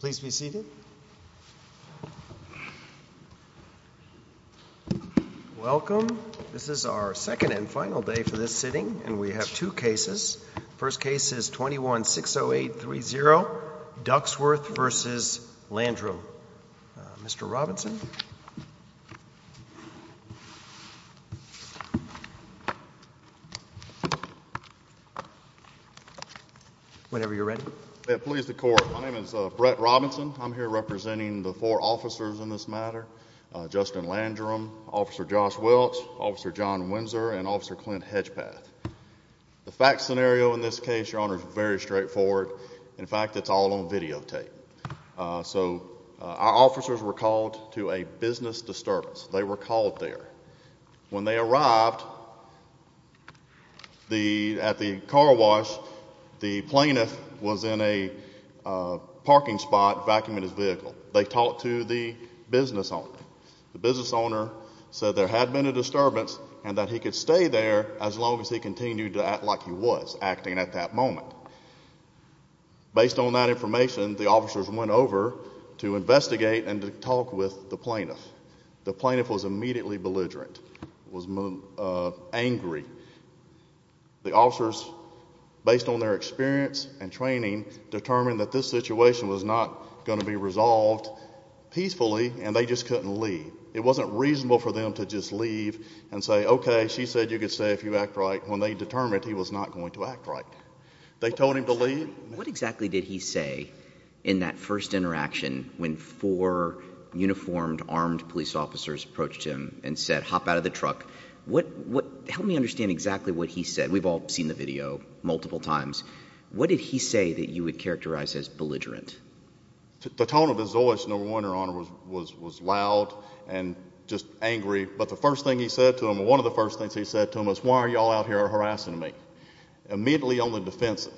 Please be seated. Welcome. This is our second and final day for this sitting, and we have two cases. The first case is 21-608-30, Ducksworth v. Landrum. Mr. Robinson? Whenever you're ready. Please, the Court. My name is Brett Robinson. I'm here representing the four officers in this matter, Justin Landrum, Officer Josh Welch, Officer John Windsor, and Officer Clint Hedgepath. The fact scenario in this case, Your Honor, is very straightforward. In fact, it's all on videotape. So our officers were called to a business disturbance. They were called there. When they arrived at the car wash, the plaintiff was in a parking spot, vacuuming his vehicle. They talked to the business owner. The business owner said there had been a disturbance and that he could stay there as long as he continued to act like he was acting at that moment. Based on that information, the officers went over to investigate and to talk with the plaintiff. The plaintiff was immediately belligerent, was angry. The officers, based on their experience and training, determined that this situation was not going to be resolved peacefully, and they just couldn't leave. It wasn't reasonable for them to just leave and say, okay, she said you could stay if you act right, when they determined he was not going to act right. They told him to leave. What exactly did he say in that first interaction when four uniformed, armed police officers approached him and said, hop out of the truck? Help me understand exactly what he said. We've all seen the video multiple times. What did he say that you would characterize as belligerent? The tone of his voice, No. 1, Your Honor, was loud and just angry. But the first thing he said to him, one of the first things he said to him was, why are you all out here harassing me? Immediately on the defensive,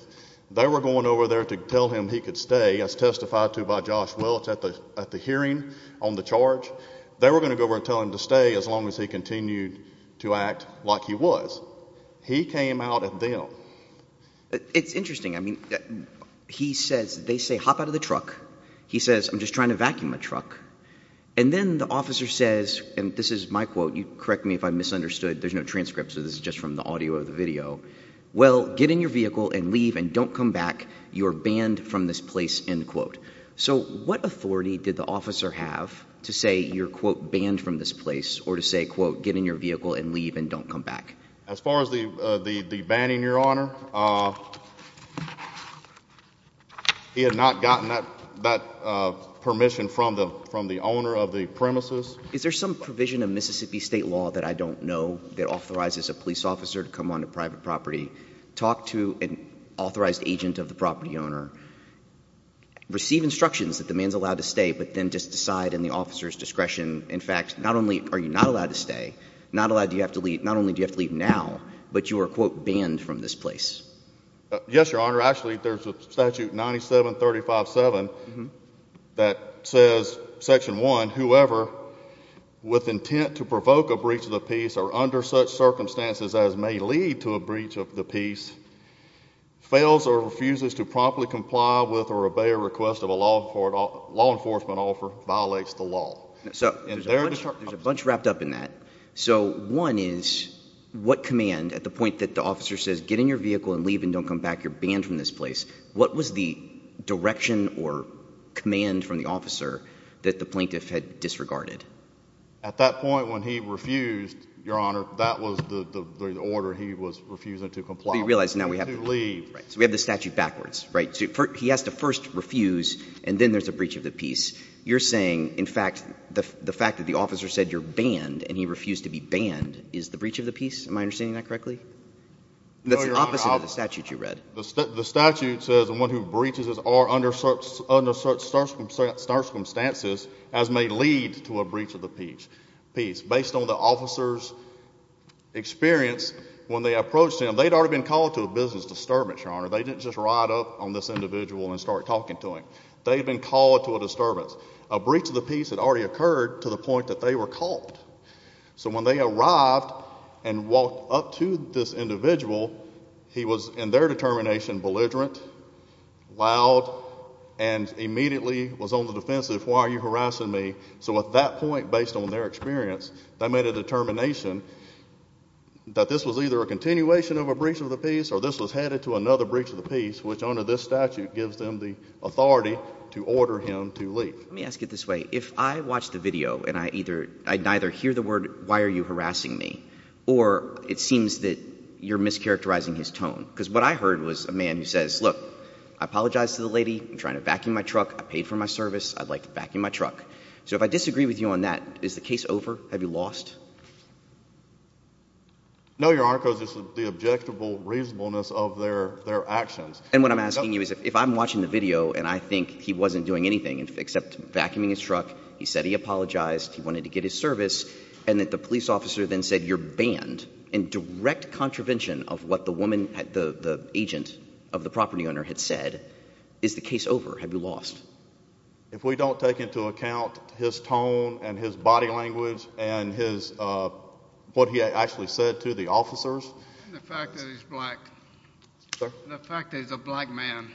they were going over there to tell him he could stay, as testified to by Josh Welch at the hearing on the charge. They were going to go over and tell him to stay as long as he continued to act like he was. He came out at them. It's interesting. I mean, he says, they say, hop out of the truck. He says, I'm just trying to vacuum the truck. And then the officer says, and this is my quote, correct me if I misunderstood, there's no transcript, so this is just from the audio of the video, well, get in your vehicle and leave and don't come back. You're banned from this place, end quote. So what authority did the officer have to say you're, quote, banned from this place or to say, quote, get in your vehicle and leave and don't come back? As far as the banning, Your Honor, he had not gotten that permission from the owner of the premises. Is there some provision of Mississippi state law that I don't know that authorizes a police officer to come onto private property, talk to an authorized agent of the property owner, receive instructions that the man's allowed to stay, but then just decide in the officer's discretion, in fact, not only are you not allowed to stay, not only do you have to leave now, but you are, quote, banned from this place? Yes, Your Honor. Actually, there's a statute 97-35-7 that says section one, whoever with intent to provoke a breach of the peace or under such circumstances as may lead to a breach of the peace, fails or refuses to promptly comply with or obey a request of a law enforcement offer, violates the law. So there's a bunch wrapped up in that. So one is, what command at the point that the officer says, get in your vehicle and leave and don't come back, you're banned from this place, what was the direction or command from the officer that the plaintiff had disregarded? At that point when he refused, Your Honor, that was the order he was refusing to comply with. But you realize now we have the statute backwards, right? He has to first refuse and then there's a breach of the peace. You're saying, in fact, the fact that the officer said you're banned and he refused to be banned is the breach of the peace? Am I understanding that correctly? No, Your Honor. That's the opposite of the statute you read. The statute says the one who breaches is or under such circumstances as may lead to a breach of the peace. Based on the officer's experience when they approached him, they'd already been called to a business disturbance, Your Honor. They didn't just ride up on this individual and start talking to him. They'd been called to a disturbance. A breach of the peace had already occurred to the point that they were caught. So when they arrived and walked up to this individual, he was in their determination belligerent, loud, and immediately was on the defensive, why are you harassing me? So at that point, based on their experience, they made a determination that this was either a continuation of a breach of the peace or this was headed to another breach of the peace, which under this statute gives them the authority to order him to leave. Let me ask it this way. If I watch the video and I either, I'd neither hear the word why are you harassing me or it seems that you're mischaracterizing his tone. Because what I heard was a man who says, look, I apologize to the lady. I'm trying to vacuum my truck. I paid for my service. I'd like to vacuum my truck. So if I disagree with you on that, is the case over? Have you lost? No, Your Honor, because it's the objectable reasonableness of their actions. And what I'm asking you is if I'm watching the video and I think he wasn't doing anything except vacuuming his truck, he said he apologized, he wanted to get his service, and that the police officer then said you're banned in direct contravention of what the woman, the agent of the property owner had said, is the case over? Have you lost? If we don't take into account his tone and his body language and his, what he actually said to the officers. Have you lost? The fact that he's black. Sir? The fact that he's a black man,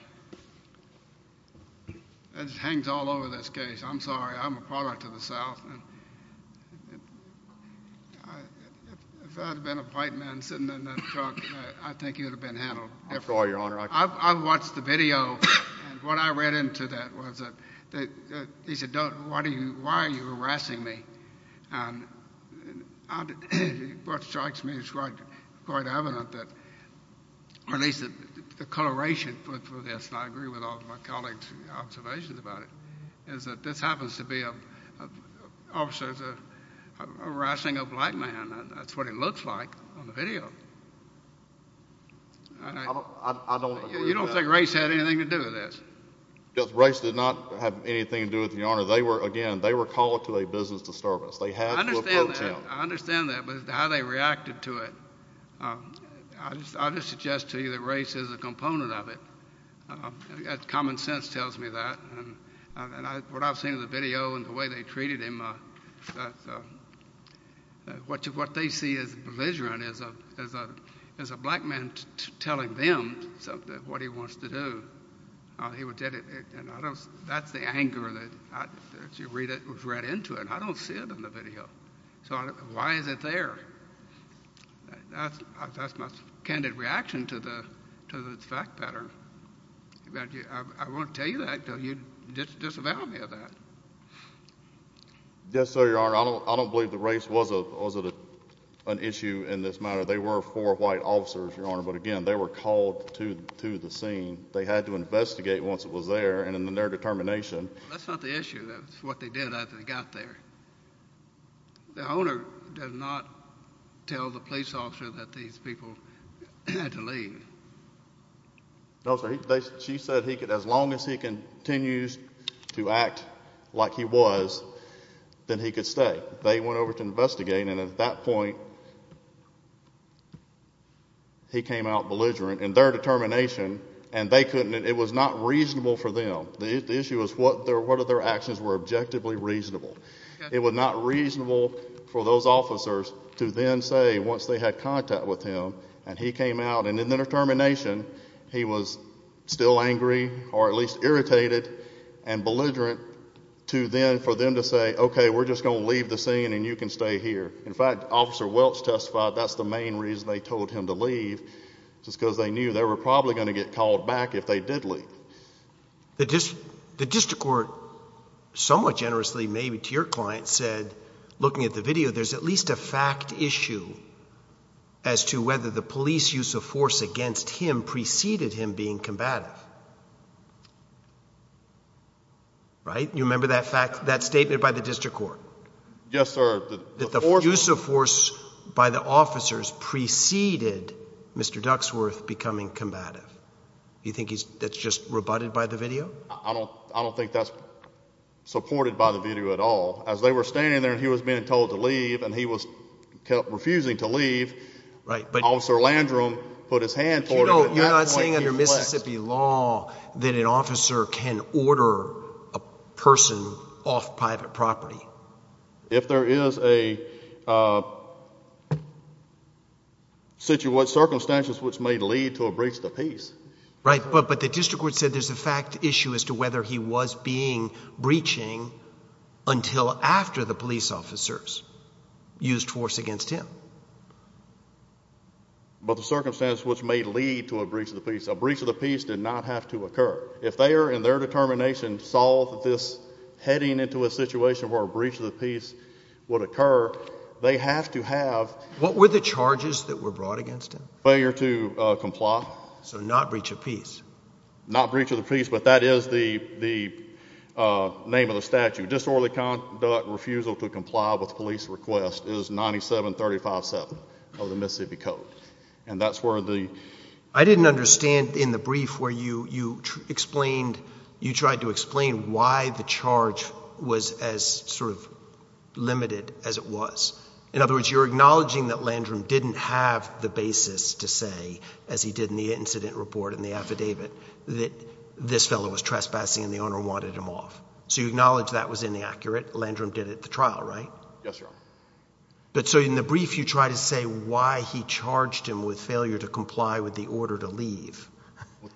it just hangs all over this case. I'm sorry. I'm a product of the South. If I'd have been a white man sitting in that truck, I think you would have been handled differently. I'm sorry, Your Honor. I've watched the video and what I read into that was that he said, why are you harassing me? And what strikes me is quite evident that, or at least the coloration for this, and I agree with all of my colleagues' observations about it, is that this happens to be officers harassing a black man. That's what it looks like on the video. I don't agree with that. You don't think Race had anything to do with this? Race did not have anything to do with it, Your Honor. They were, again, they were called to a business disturbance. I understand that. I understand that. But how they reacted to it, I would suggest to you that Race is a component of it. Common sense tells me that. And what I've seen in the video and the way they treated him, what they see as belligerent is a black man telling them something, what he wants to do. He would get it, and I don't, that's the anger that, as you read into it, I don't see it in the video. So why is it there? That's my candid reaction to the fact pattern. I won't tell you that until you disavow me of that. Yes, sir, Your Honor. I don't believe that Race was an issue in this matter. They were four white officers, Your Honor, but again, they were called to the scene. They had to investigate once it was there and in their determination. That's not the issue. That's what they did after they got there. The owner does not tell the police officer that these people had to leave. No, sir. She said as long as he continues to act like he was, then he could stay. They went over to investigate, and at that point, he came out belligerent in their determination, and they couldn't. It was not reasonable for them. The issue was what of their actions were objectively reasonable. It was not reasonable for those officers to then say, once they had contact with him, and he came out, and in their determination, he was still angry or at least irritated and belligerent to then for them to say, okay, we're just going to leave the scene and you can stay here. In fact, Officer Welch testified that's the main reason they told him to leave, just because they knew they were probably going to get called back if they did leave. The district court somewhat generously, maybe to your client, said, looking at the video, there's at least a fact issue as to whether the police use of force against him preceded him being combative, right? You remember that statement by the district court? Yes, sir. That the use of force by the officers preceded Mr. Duxworth becoming combative. You think that's just rebutted by the video? I don't think that's supported by the video at all. As they were standing there and he was being told to leave, and he was refusing to leave, Officer Landrum put his hand forward, but at that point, he flexed. You're not saying under Mississippi law that an officer can order a person off private property? If there is a situation, circumstances which may lead to a breach of the peace. Right, but the district court said there's a fact issue as to whether he was being breaching until after the police officers used force against him. But the circumstances which may lead to a breach of the peace, a breach of the peace did not have to occur. If they are in their determination to solve this heading into a situation where a breach of the peace would occur, they have to have... What were the charges that were brought against him? Failure to comply. So not breach of peace? Not breach of the peace, but that is the name of the statute. Disorderly conduct, refusal to comply with police request is 9735-7 of the Mississippi Code. And that's where the... I didn't understand in the brief where you explained, you tried to explain why the charge was as sort of limited as it was. In other words, you're acknowledging that Landrum didn't have the basis to say, as he did in the incident report and the affidavit, that this fellow was trespassing and the owner wanted him off. So you acknowledge that was inaccurate. Landrum did it at the trial, right? Yes, Your Honor. But so in the brief, you try to say why he charged him with failure to comply with the order to leave.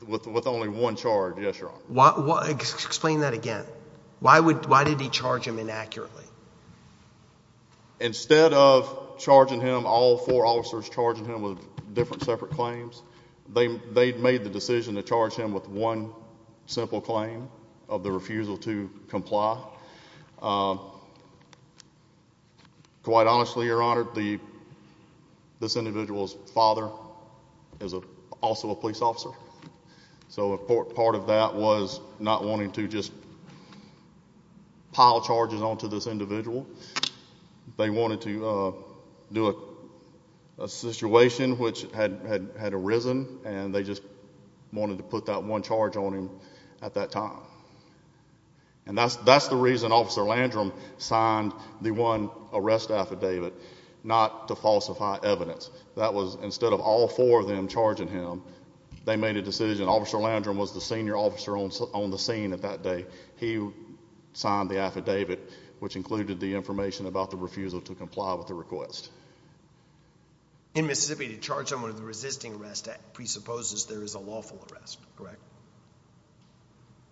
With only one charge, yes, Your Honor. Explain that again. Why did he charge him inaccurately? Instead of charging him, all four officers charging him with different separate claims, they made the decision to charge him with one simple claim of the refusal to comply. Quite honestly, Your Honor, this individual's father is also a police officer. So part of that was not wanting to just pile charges onto this individual. They wanted to do a situation which had arisen and they just wanted to put that one charge on him at that time. And that's the reason Officer Landrum signed the one arrest affidavit, not to falsify evidence. That was instead of all four of them charging him, they made a decision. Officer Landrum was the senior officer on the scene at that day. He signed the affidavit, which included the information about the refusal to comply with the request. In Mississippi, to charge someone with resisting arrest presupposes there is a lawful arrest, correct?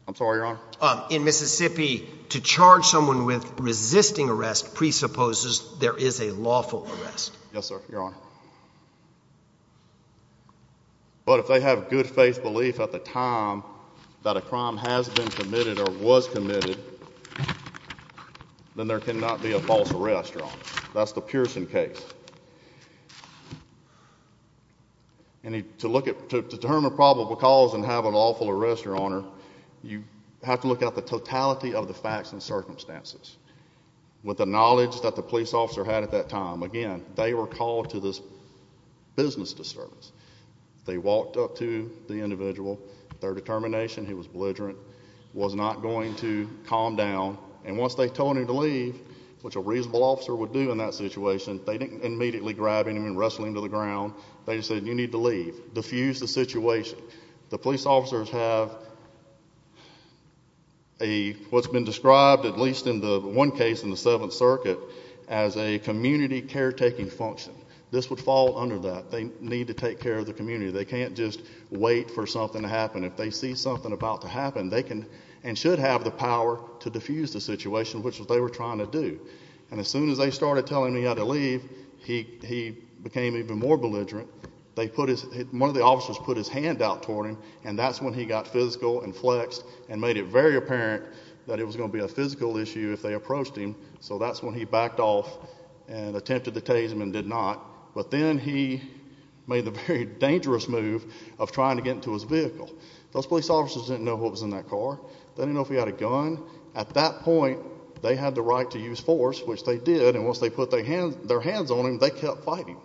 I'm sorry, Your Honor? In Mississippi, to charge someone with resisting arrest presupposes there is a lawful arrest. Yes, sir, Your Honor. But if they have good faith belief at the time that a crime has been committed or was committed, then there cannot be a false arrest, Your Honor. That's the Pearson case. To determine probable cause and have a lawful arrest, Your Honor, you have to look at the totality of the facts and circumstances. With the knowledge that the police officer had at that time, again, they were called to this business disturbance. They walked up to the individual. Their determination, he was belligerent, was not going to calm down. And once they told him to leave, which a reasonable officer would do in that situation, they didn't immediately grab him and wrestle him to the ground. They just said, you need to leave, diffuse the situation. The police officers have what's been described, at least in the one case in the Seventh Circuit, as a community caretaking function. This would fall under that. They need to take care of the community. They can't just wait for something to happen. If they see something about to happen, they can and should have the power to diffuse the situation, which is what they were trying to do. And as soon as they started telling him he had to leave, he became even more belligerent. One of the officers put his hand out toward him, and that's when he got physical and flexed and made it very apparent that it was going to be a physical issue if they approached him. So that's when he backed off and attempted to tase him and did not. But then he made the very dangerous move of trying to get into his vehicle. Those police officers didn't know what was in that car. They didn't know if he had a gun. At that point, they had the right to use force, which they did. And once they put their hands on him, they kept fighting.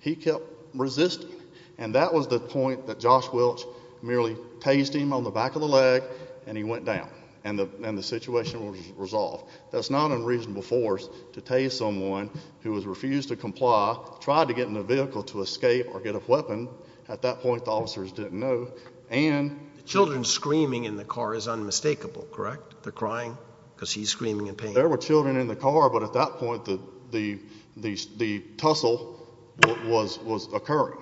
He kept resisting. And that was the point that Josh Welch merely tased him on the back of the leg, and he went down and the situation was resolved. That's not unreasonable force to tase someone who has refused to comply, tried to get in the vehicle to escape or get a weapon. At that point, the officers didn't know. And children screaming in the car is unmistakable, correct? They're crying because he's screaming in pain. There were children in the car, but at that point, the tussle was occurring.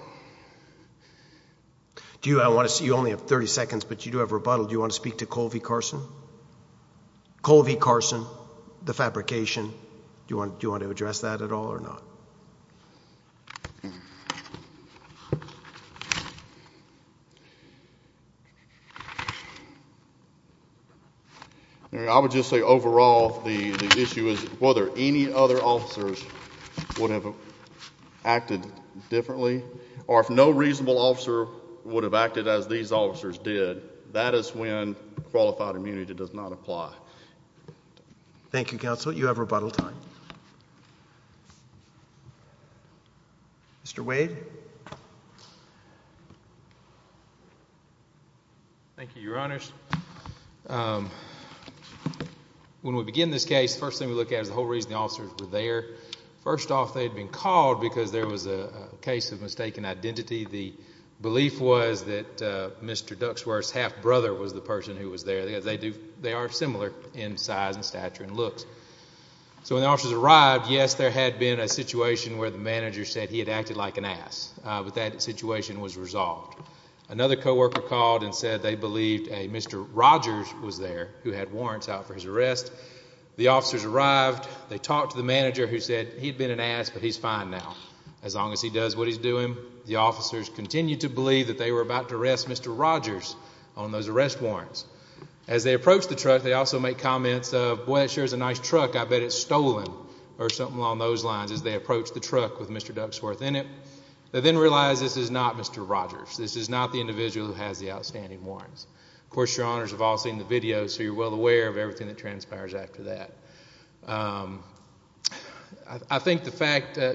Do you, I want to see, you only have 30 seconds, but you do have rebuttal. Do you want to speak to Colvie Carson? Colvie Carson, the fabrication, do you want to address that at all or not? I would just say overall, the issue is whether any other officers would have acted differently or if no reasonable officer would have acted as these officers did, that is when qualified immunity does not apply. Thank you, Counsel. You have rebuttal time. Mr. Wade? Thank you, Your Honors. When we begin this case, first thing we look at is the whole reason the officers were there. First off, they had been called because there was a case of mistaken identity. The belief was that Mr. Duxworth's half-brother was the person who was there. They are similar in size and stature and looks. So when the officers arrived, yes, there had been a situation where the manager said he had acted like an ass, but that situation was resolved. Another coworker called and said they believed a Mr. Rogers was there who had warrants out for his arrest. The officers arrived. They talked to the manager who said he had been an ass, but he's fine now. As long as he does what he's doing, the officers continued to believe that they were about to arrest Mr. Rogers on those arrest warrants. As they approached the truck, they also made comments of, boy, that sure is a nice truck. I bet it's stolen or something along those lines as they approached the truck with Mr. Duxworth in it. They then realized this is not Mr. Rogers. This is not the individual who has the outstanding warrants. Of course, Your Honors have all seen the video, so you're well aware of everything that transpires after that. I think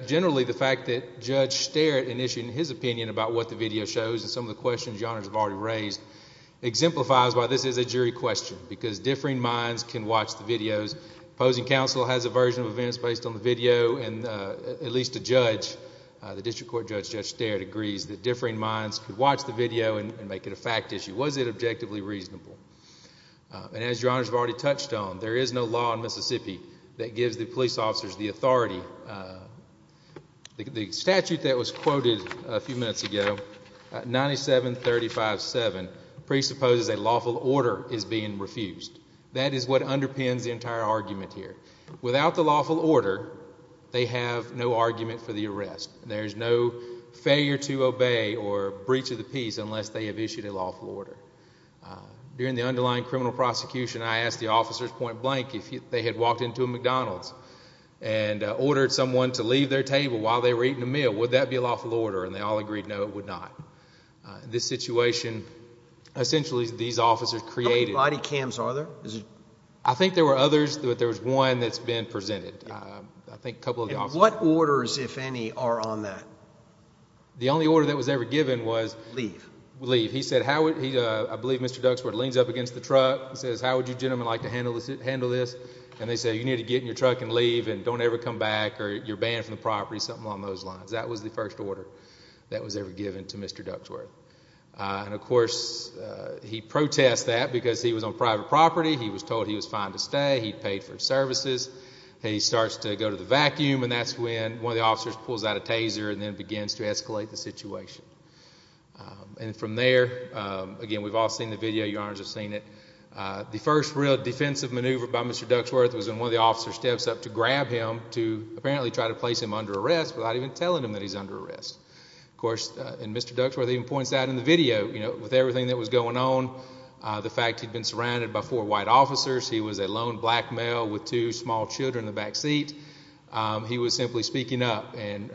generally the fact that Judge Sterritt initiated his opinion about what the video shows and some of the questions Your Honors have already raised exemplifies why this is a jury question, because differing minds can watch the videos. The opposing counsel has a version of events based on the video, and at least a judge, the District Court Judge, Judge Sterritt, agrees that differing minds could watch the video and make it a fact issue. Was it objectively reasonable? As Your Honors have already touched on, there is no law in Mississippi that gives the police officers the authority. The statute that was quoted a few minutes ago, 9735-7, presupposes a lawful order is being refused. That is what underpins the entire argument here. Without the lawful order, they have no argument for the arrest. There's no failure to obey or breach of the peace unless they have issued a lawful order. During the underlying criminal prosecution, I asked the officers point blank if they had walked into a McDonald's and ordered someone to leave their table while they were eating a meal. Would that be a lawful order? And they all agreed, no, it would not. This situation, essentially, these officers created... How many body cams are there? I think there were others, but there was one that's been presented. I think a couple of the officers... And what orders, if any, are on that? The only order that was ever given was... Leave. Leave. He said, how would... I believe Mr. Duxford leans up against the truck and says, how would you gentlemen like to handle this? And they said, you need to get in your truck and leave and don't ever come back or you're banned from the property, something along those lines. That was the first order that was ever given to Mr. Duxford. And, of course, he protested that because he was on private property, he was told he was fine to stay, he paid for his services. He starts to go to the vacuum and that's when one of the officers pulls out a taser and then begins to escalate the situation. And from there, again, we've all seen the video, your honors have seen it, the first real defensive maneuver by Mr. Duxford was when one of the officers steps up to grab him to apparently try to place him under arrest without even telling him that he's under arrest. Of course, and Mr. Duxford even points out in the video, you know, with everything that was going on, the fact he'd been surrounded by four white officers, he was a lone black male with two small children in the back seat. He was simply speaking up and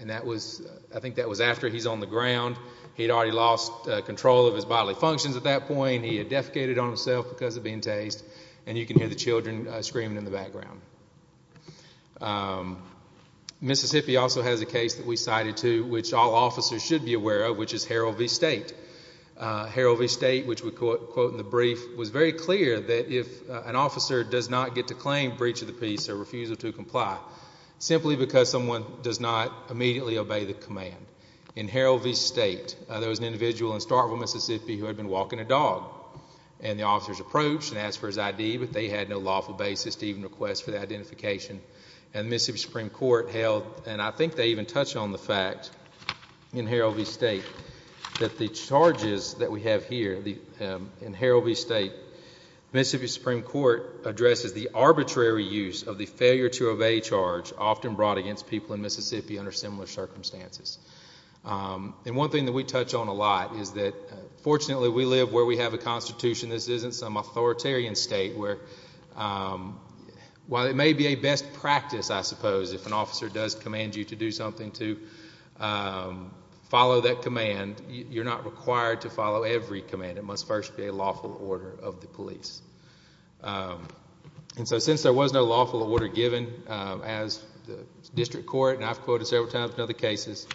that was... I think that was after he's on the ground, he'd already lost control of his bodily functions at that point, he had defecated on himself because of being tased and you can hear the children screaming in the background. Mississippi also has a case that we cited too, which all officers should be aware of, which is Harold v. State. Harold v. State, which we quote in the brief, was very clear that if an officer does not get to claim breach of the peace or refusal to comply, simply because someone does not immediately obey the command. In Harold v. State, there was an individual in Starkville, Mississippi who had been walking a dog and the officers approached and asked for his ID, but they had no lawful basis to even request for the identification and Mississippi Supreme Court held, and I think they even touched on the fact in Harold v. State, that the charges that we have here in Harold v. State, Mississippi Supreme Court addresses the arbitrary use of the failure to obey charge often brought against people in Mississippi under similar circumstances. And one thing that we touch on a lot is that fortunately we live where we have a constitution. This isn't some authoritarian state where while it may be a best practice, I suppose, if an officer does command you to do something to follow that command, you're not required to follow every command. It must first be a lawful order of the police. And so since there was no lawful order given as the district court, and I've quoted several times in other cases,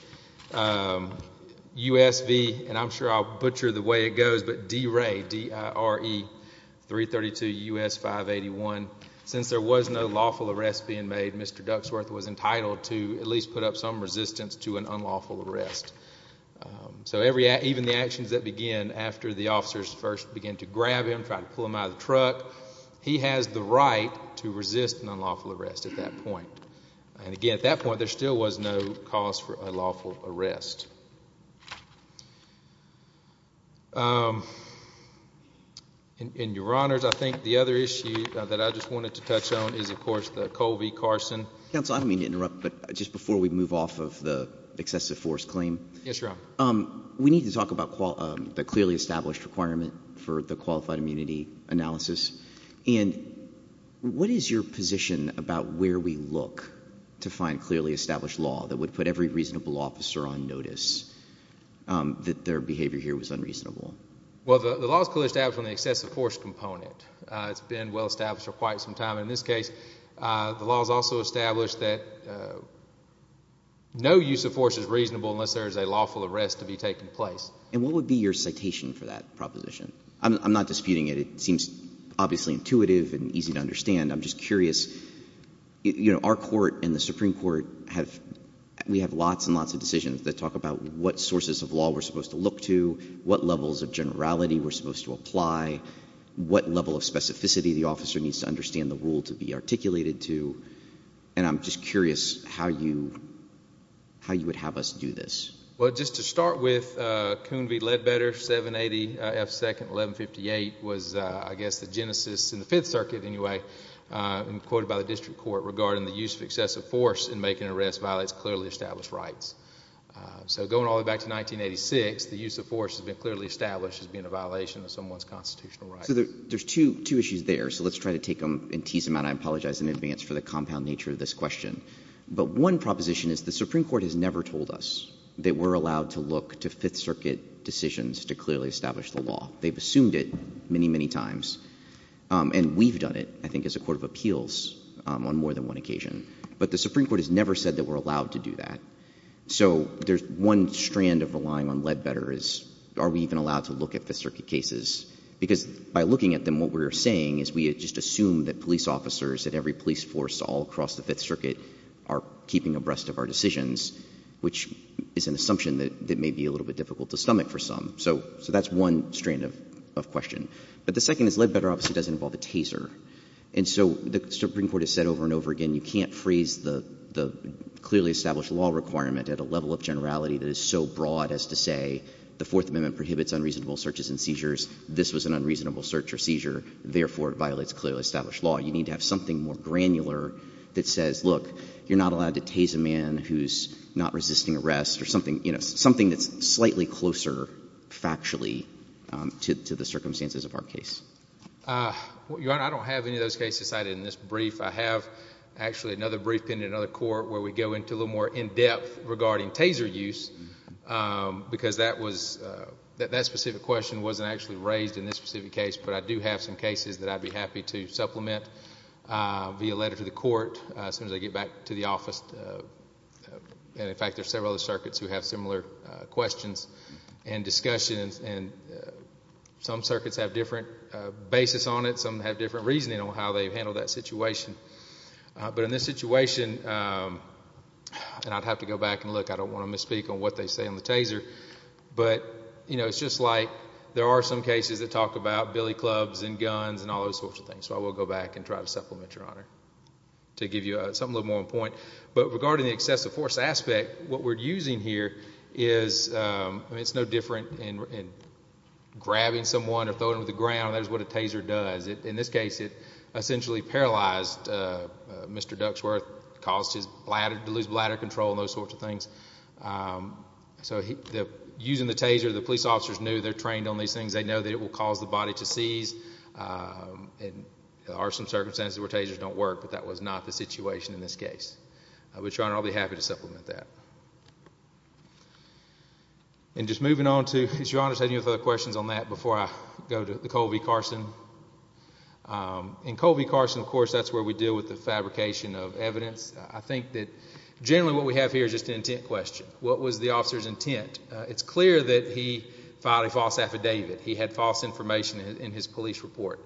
USV, and I'm sure I'll butcher the way it goes, but DRE, D-I-R-E-332-U-S-581, since there was no lawful arrest being made, Mr. Duxworth was entitled to at least put up some resistance to an unlawful arrest. So even the actions that begin after the officers first begin to grab him, try to pull him out of the truck, he has the right to resist an unlawful arrest at that point. And again, at that point, there still was no cause for a lawful arrest. In your honors, I think the other issue that I just wanted to touch on is, of course, the Colby-Carson. Counsel, I don't mean to interrupt, but just before we move off of the excessive force claim, we need to talk about the clearly established requirement for the qualified immunity analysis. And what is your position about where we look to find clearly established law that would put every reasonable officer on notice that their behavior here was unreasonable? Well, the law is clearly established on the excessive force component. It's been well established for quite some time. In this case, the law is also established that no use of force is reasonable unless there is a lawful arrest to be taking place. And what would be your citation for that proposition? I'm not disputing it. It seems obviously intuitive and easy to understand. I'm just curious, you know, our court and the Supreme Court have, we have lots and lots of decisions that talk about what sources of law we're supposed to look to, what levels of generality we're supposed to apply, what level of specificity the officer needs to understand the rule to be articulated to. And I'm just curious how you, how you would have us do this. Well, just to start with, Coon v. Ledbetter, 780 F. 2nd, 1158 was, I guess, the genesis in the Fifth Circuit, anyway, and quoted by the district court regarding the use of excessive force in making an arrest violates clearly established rights. So going all the way back to 1986, the use of force has been clearly established as being a violation of someone's constitutional rights. So there's two issues there. So let's try to take them and tease them out. I apologize in advance for the compound nature of this question. But one proposition is the Supreme Court has never told us. They were allowed to look to Fifth Circuit decisions to clearly establish the law. They've assumed it many, many times. And we've done it, I think, as a court of appeals on more than one occasion. But the Supreme Court has never said that we're allowed to do that. So there's one strand of relying on Ledbetter is, are we even allowed to look at Fifth Circuit cases? Because by looking at them, what we're saying is we just assume that police officers at every police force all across the Fifth Circuit are keeping abreast of our decisions, which is an assumption that may be a little bit difficult to stomach for some. So that's one strand of question. But the second is Ledbetter obviously doesn't involve a taser. And so the Supreme Court has said over and over again, you can't freeze the clearly established law requirement at a level of generality that is so broad as to say the Fourth Amendment prohibits unreasonable searches and seizures. This was an unreasonable search or seizure, therefore it violates clearly established law. You need to have something more granular that says, look, you're not allowed to tase a man who's not resisting arrest, or something that's slightly closer factually to the circumstances of our case. Your Honor, I don't have any of those cases cited in this brief. I have actually another brief in another court where we go into a little more in-depth regarding taser use, because that specific question wasn't actually raised in this specific case. But I do have some cases that I'd be happy to supplement via letter to the court as soon as I get back to the office. And in fact, there are several other circuits who have similar questions and discussions. And some circuits have different basis on it. Some have different reasoning on how they handle that situation. But in this situation, and I'd have to go back and look, I don't want to misspeak on what they say on the taser, but it's just like there are some cases that talk about billy clubs and guns and all those sorts of things. So I will go back and try to supplement, Your Honor, to give you something a little more on point. But regarding the excessive force aspect, what we're using here is, I mean, it's no different in grabbing someone or throwing them to the ground, that is what a taser does. In this case, it essentially paralyzed Mr. Duxworth, caused his bladder to lose bladder control and those sorts of things. So using the taser, the police officers knew they're trained on these things. They know that it will cause the body to seize. And there are some circumstances where tasers don't work, but that was not the situation in this case. But, Your Honor, I'll be happy to supplement that. And just moving on to, Your Honor, if you have any other questions on that before I go to Colby Carson. In Colby Carson, of course, that's where we deal with the fabrication of evidence. I think that generally what we have here is just an intent question. What was the officer's intent? It's clear that he filed a false affidavit. He had false information in his police report.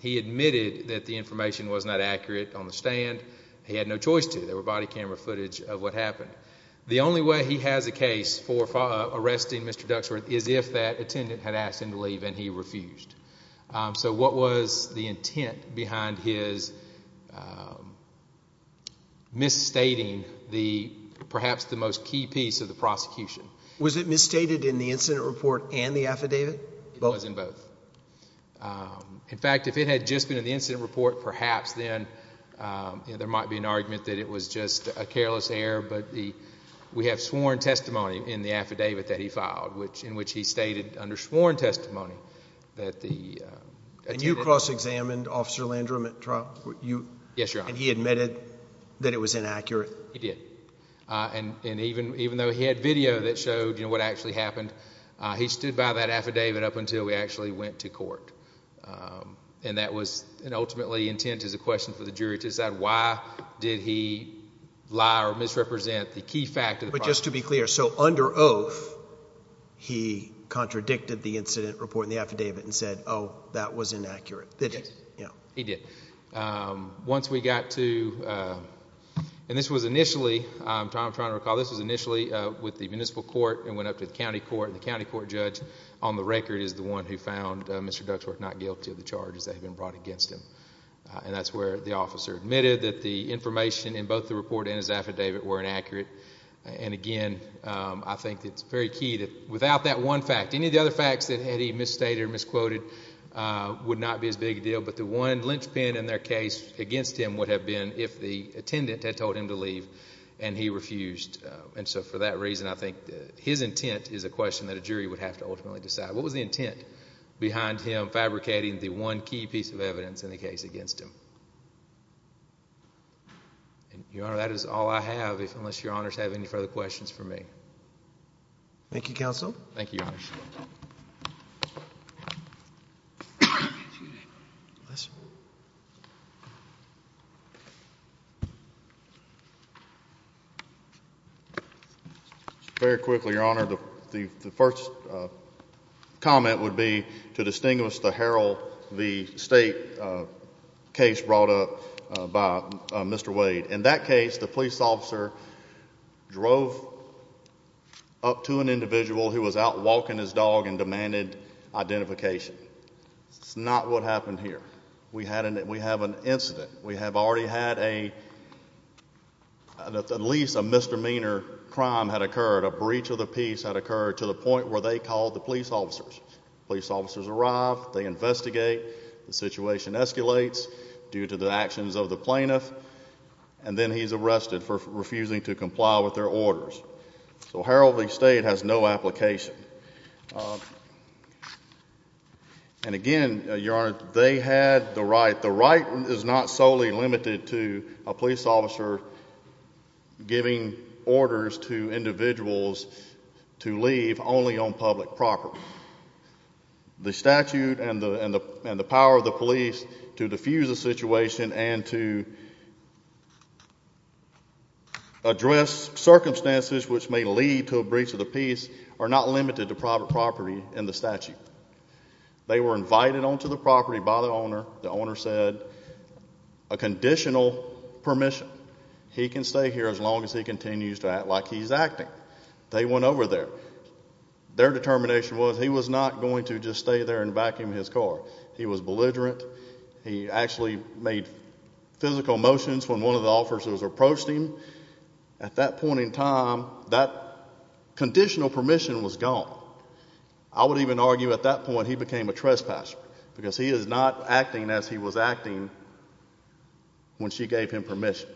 He admitted that the information was not accurate on the stand. He had no choice to. There were body camera footage of what happened. The only way he has a case for arresting Mr. Duxworth is if that attendant had asked him to leave and he refused. So what was the intent behind his misstating perhaps the most key piece of the prosecution? Was it misstated in the incident report and the affidavit? It was in both. In fact, if it had just been in the incident report, perhaps then there might be an argument that it was just a careless error. But we have sworn testimony in the affidavit that he filed in which he stated under sworn testimony that the attendant... And you cross-examined Officer Landrum at trial? Yes, Your Honor. And he admitted that it was inaccurate? He did. And even though he had video that showed what actually happened, he stood by that affidavit up until we actually went to court. And that was ultimately intent as a question for the jury to decide why did he lie or misrepresent the key fact of the prosecution. But just to be clear, so under oath, he contradicted the incident report and the affidavit and said, oh, that was inaccurate? He did. He did. Once we got to, and this was initially, I'm trying to recall, this was initially with the municipal court and went up to the county court and the county court judge on the record is the one who found Mr. Duxworth not guilty of the charges that had been brought against him. And that's where the officer admitted that the information in both the report and his And again, I think it's very key that without that one fact, any of the other facts that he had misstated or misquoted would not be as big a deal. But the one linchpin in their case against him would have been if the attendant had told him to leave and he refused. And so for that reason, I think his intent is a question that a jury would have to ultimately decide. What was the intent behind him fabricating the one key piece of evidence in the case against him? And, Your Honor, that is all I have, unless Your Honors have any further questions for me. Thank you, Counsel. Thank you, Your Honor. Very quickly, Your Honor, the first comment would be to distinguish the Herald v. State case brought up by Mr. Wade. In that case, the police officer drove up to an individual who was out walking his dog and demanded identification. That's not what happened here. We have an incident. We have already had a, at least a misdemeanor crime had occurred, a breach of the peace had occurred to the point where they called the police officers. Police officers arrived, they investigate, the situation escalates due to the actions of the plaintiff, and then he's arrested for refusing to comply with their orders. So Herald v. State has no application. And again, Your Honor, they had the right. The right is not solely limited to a police officer giving orders to individuals to leave only on public property. The statute and the power of the police to diffuse the situation and to address circumstances which may lead to a breach of the peace are not limited to private property in the statute. They were invited onto the property by the owner. The owner said, a conditional permission. He can stay here as long as he continues to act like he's acting. They went over there. Their determination was he was not going to just stay there and vacuum his car. He was belligerent. He actually made physical motions when one of the officers approached him. At that point in time, that conditional permission was gone. I would even argue at that point he became a trespasser, because he is not acting as he was acting when she gave him permission.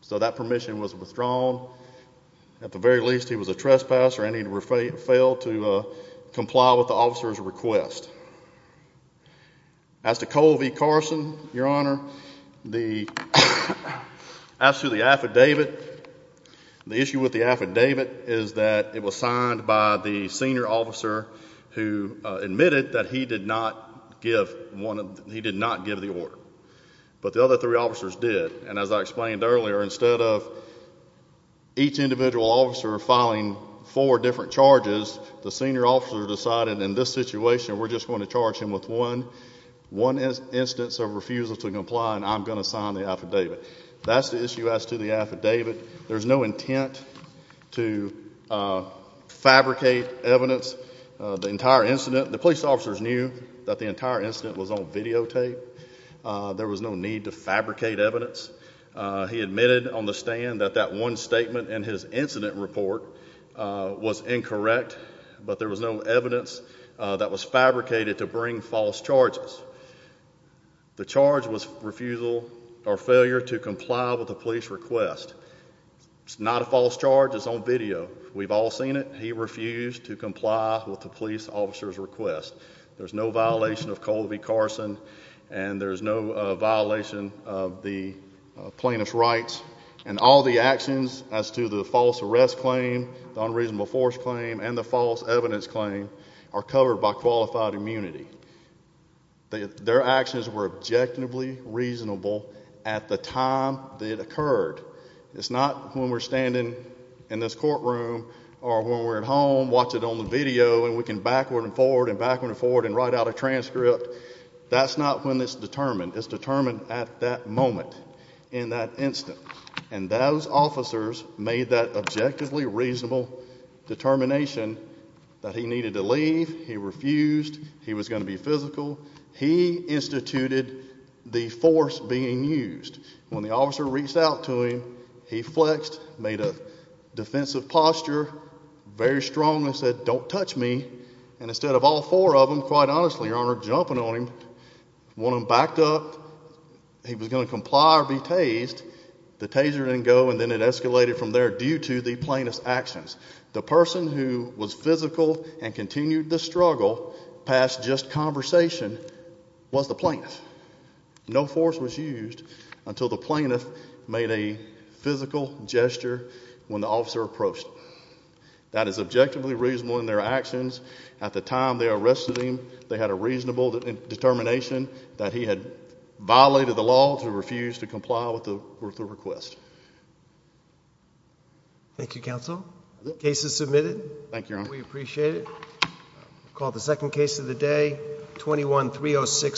So that permission was withdrawn. At the very least, he was a trespasser and he failed to comply with the officer's request. As to Cole v. Carson, Your Honor, the issue with the affidavit is that it was signed by the senior officer who admitted that he did not give the order. But the other three officers did. And as I explained earlier, instead of each individual officer filing four different charges, the senior officer decided, in this situation, we're just going to charge him with one instance of refusal to comply and I'm going to sign the affidavit. That's the issue as to the affidavit. There's no intent to fabricate evidence. The police officers knew that the entire incident was on videotape. There was no need to fabricate evidence. He admitted on the stand that that one statement in his incident report was incorrect, but there was no evidence that was fabricated to bring false charges. The charge was refusal or failure to comply with the police request. It's not a false charge, it's on video. We've all seen it. He refused to comply with the police officer's request. There's no violation of Colby Carson and there's no violation of the plaintiff's rights. And all the actions as to the false arrest claim, the unreasonable force claim, and the false evidence claim are covered by qualified immunity. Their actions were objectively reasonable at the time that it occurred. It's not when we're standing in this courtroom or when we're at home, watch it on the video, and we can backward and forward and backward and forward and write out a transcript, that's not when it's determined. It's determined at that moment, in that instant. And those officers made that objectively reasonable determination that he needed to leave, he refused, he was gonna be physical. He instituted the force being used. When the officer reached out to him, he flexed, made a defensive posture, very strong and said, don't touch me. And instead of all four of them, quite honestly, Your Honor, jumping on him, one of them backed up, he was gonna comply or be tased. The taser didn't go and then it escalated from there due to the plaintiff's actions. The person who was physical and continued the struggle past just conversation was the plaintiff. No force was used until the plaintiff made a physical gesture when the officer approached him. That is objectively reasonable in their actions. At the time they arrested him, they had a reasonable determination that he had violated the law to refuse to comply with the request. Thank you, counsel. Case is submitted. Thank you, Your Honor. We appreciate it. We'll call the second case of the day, 21-306-4.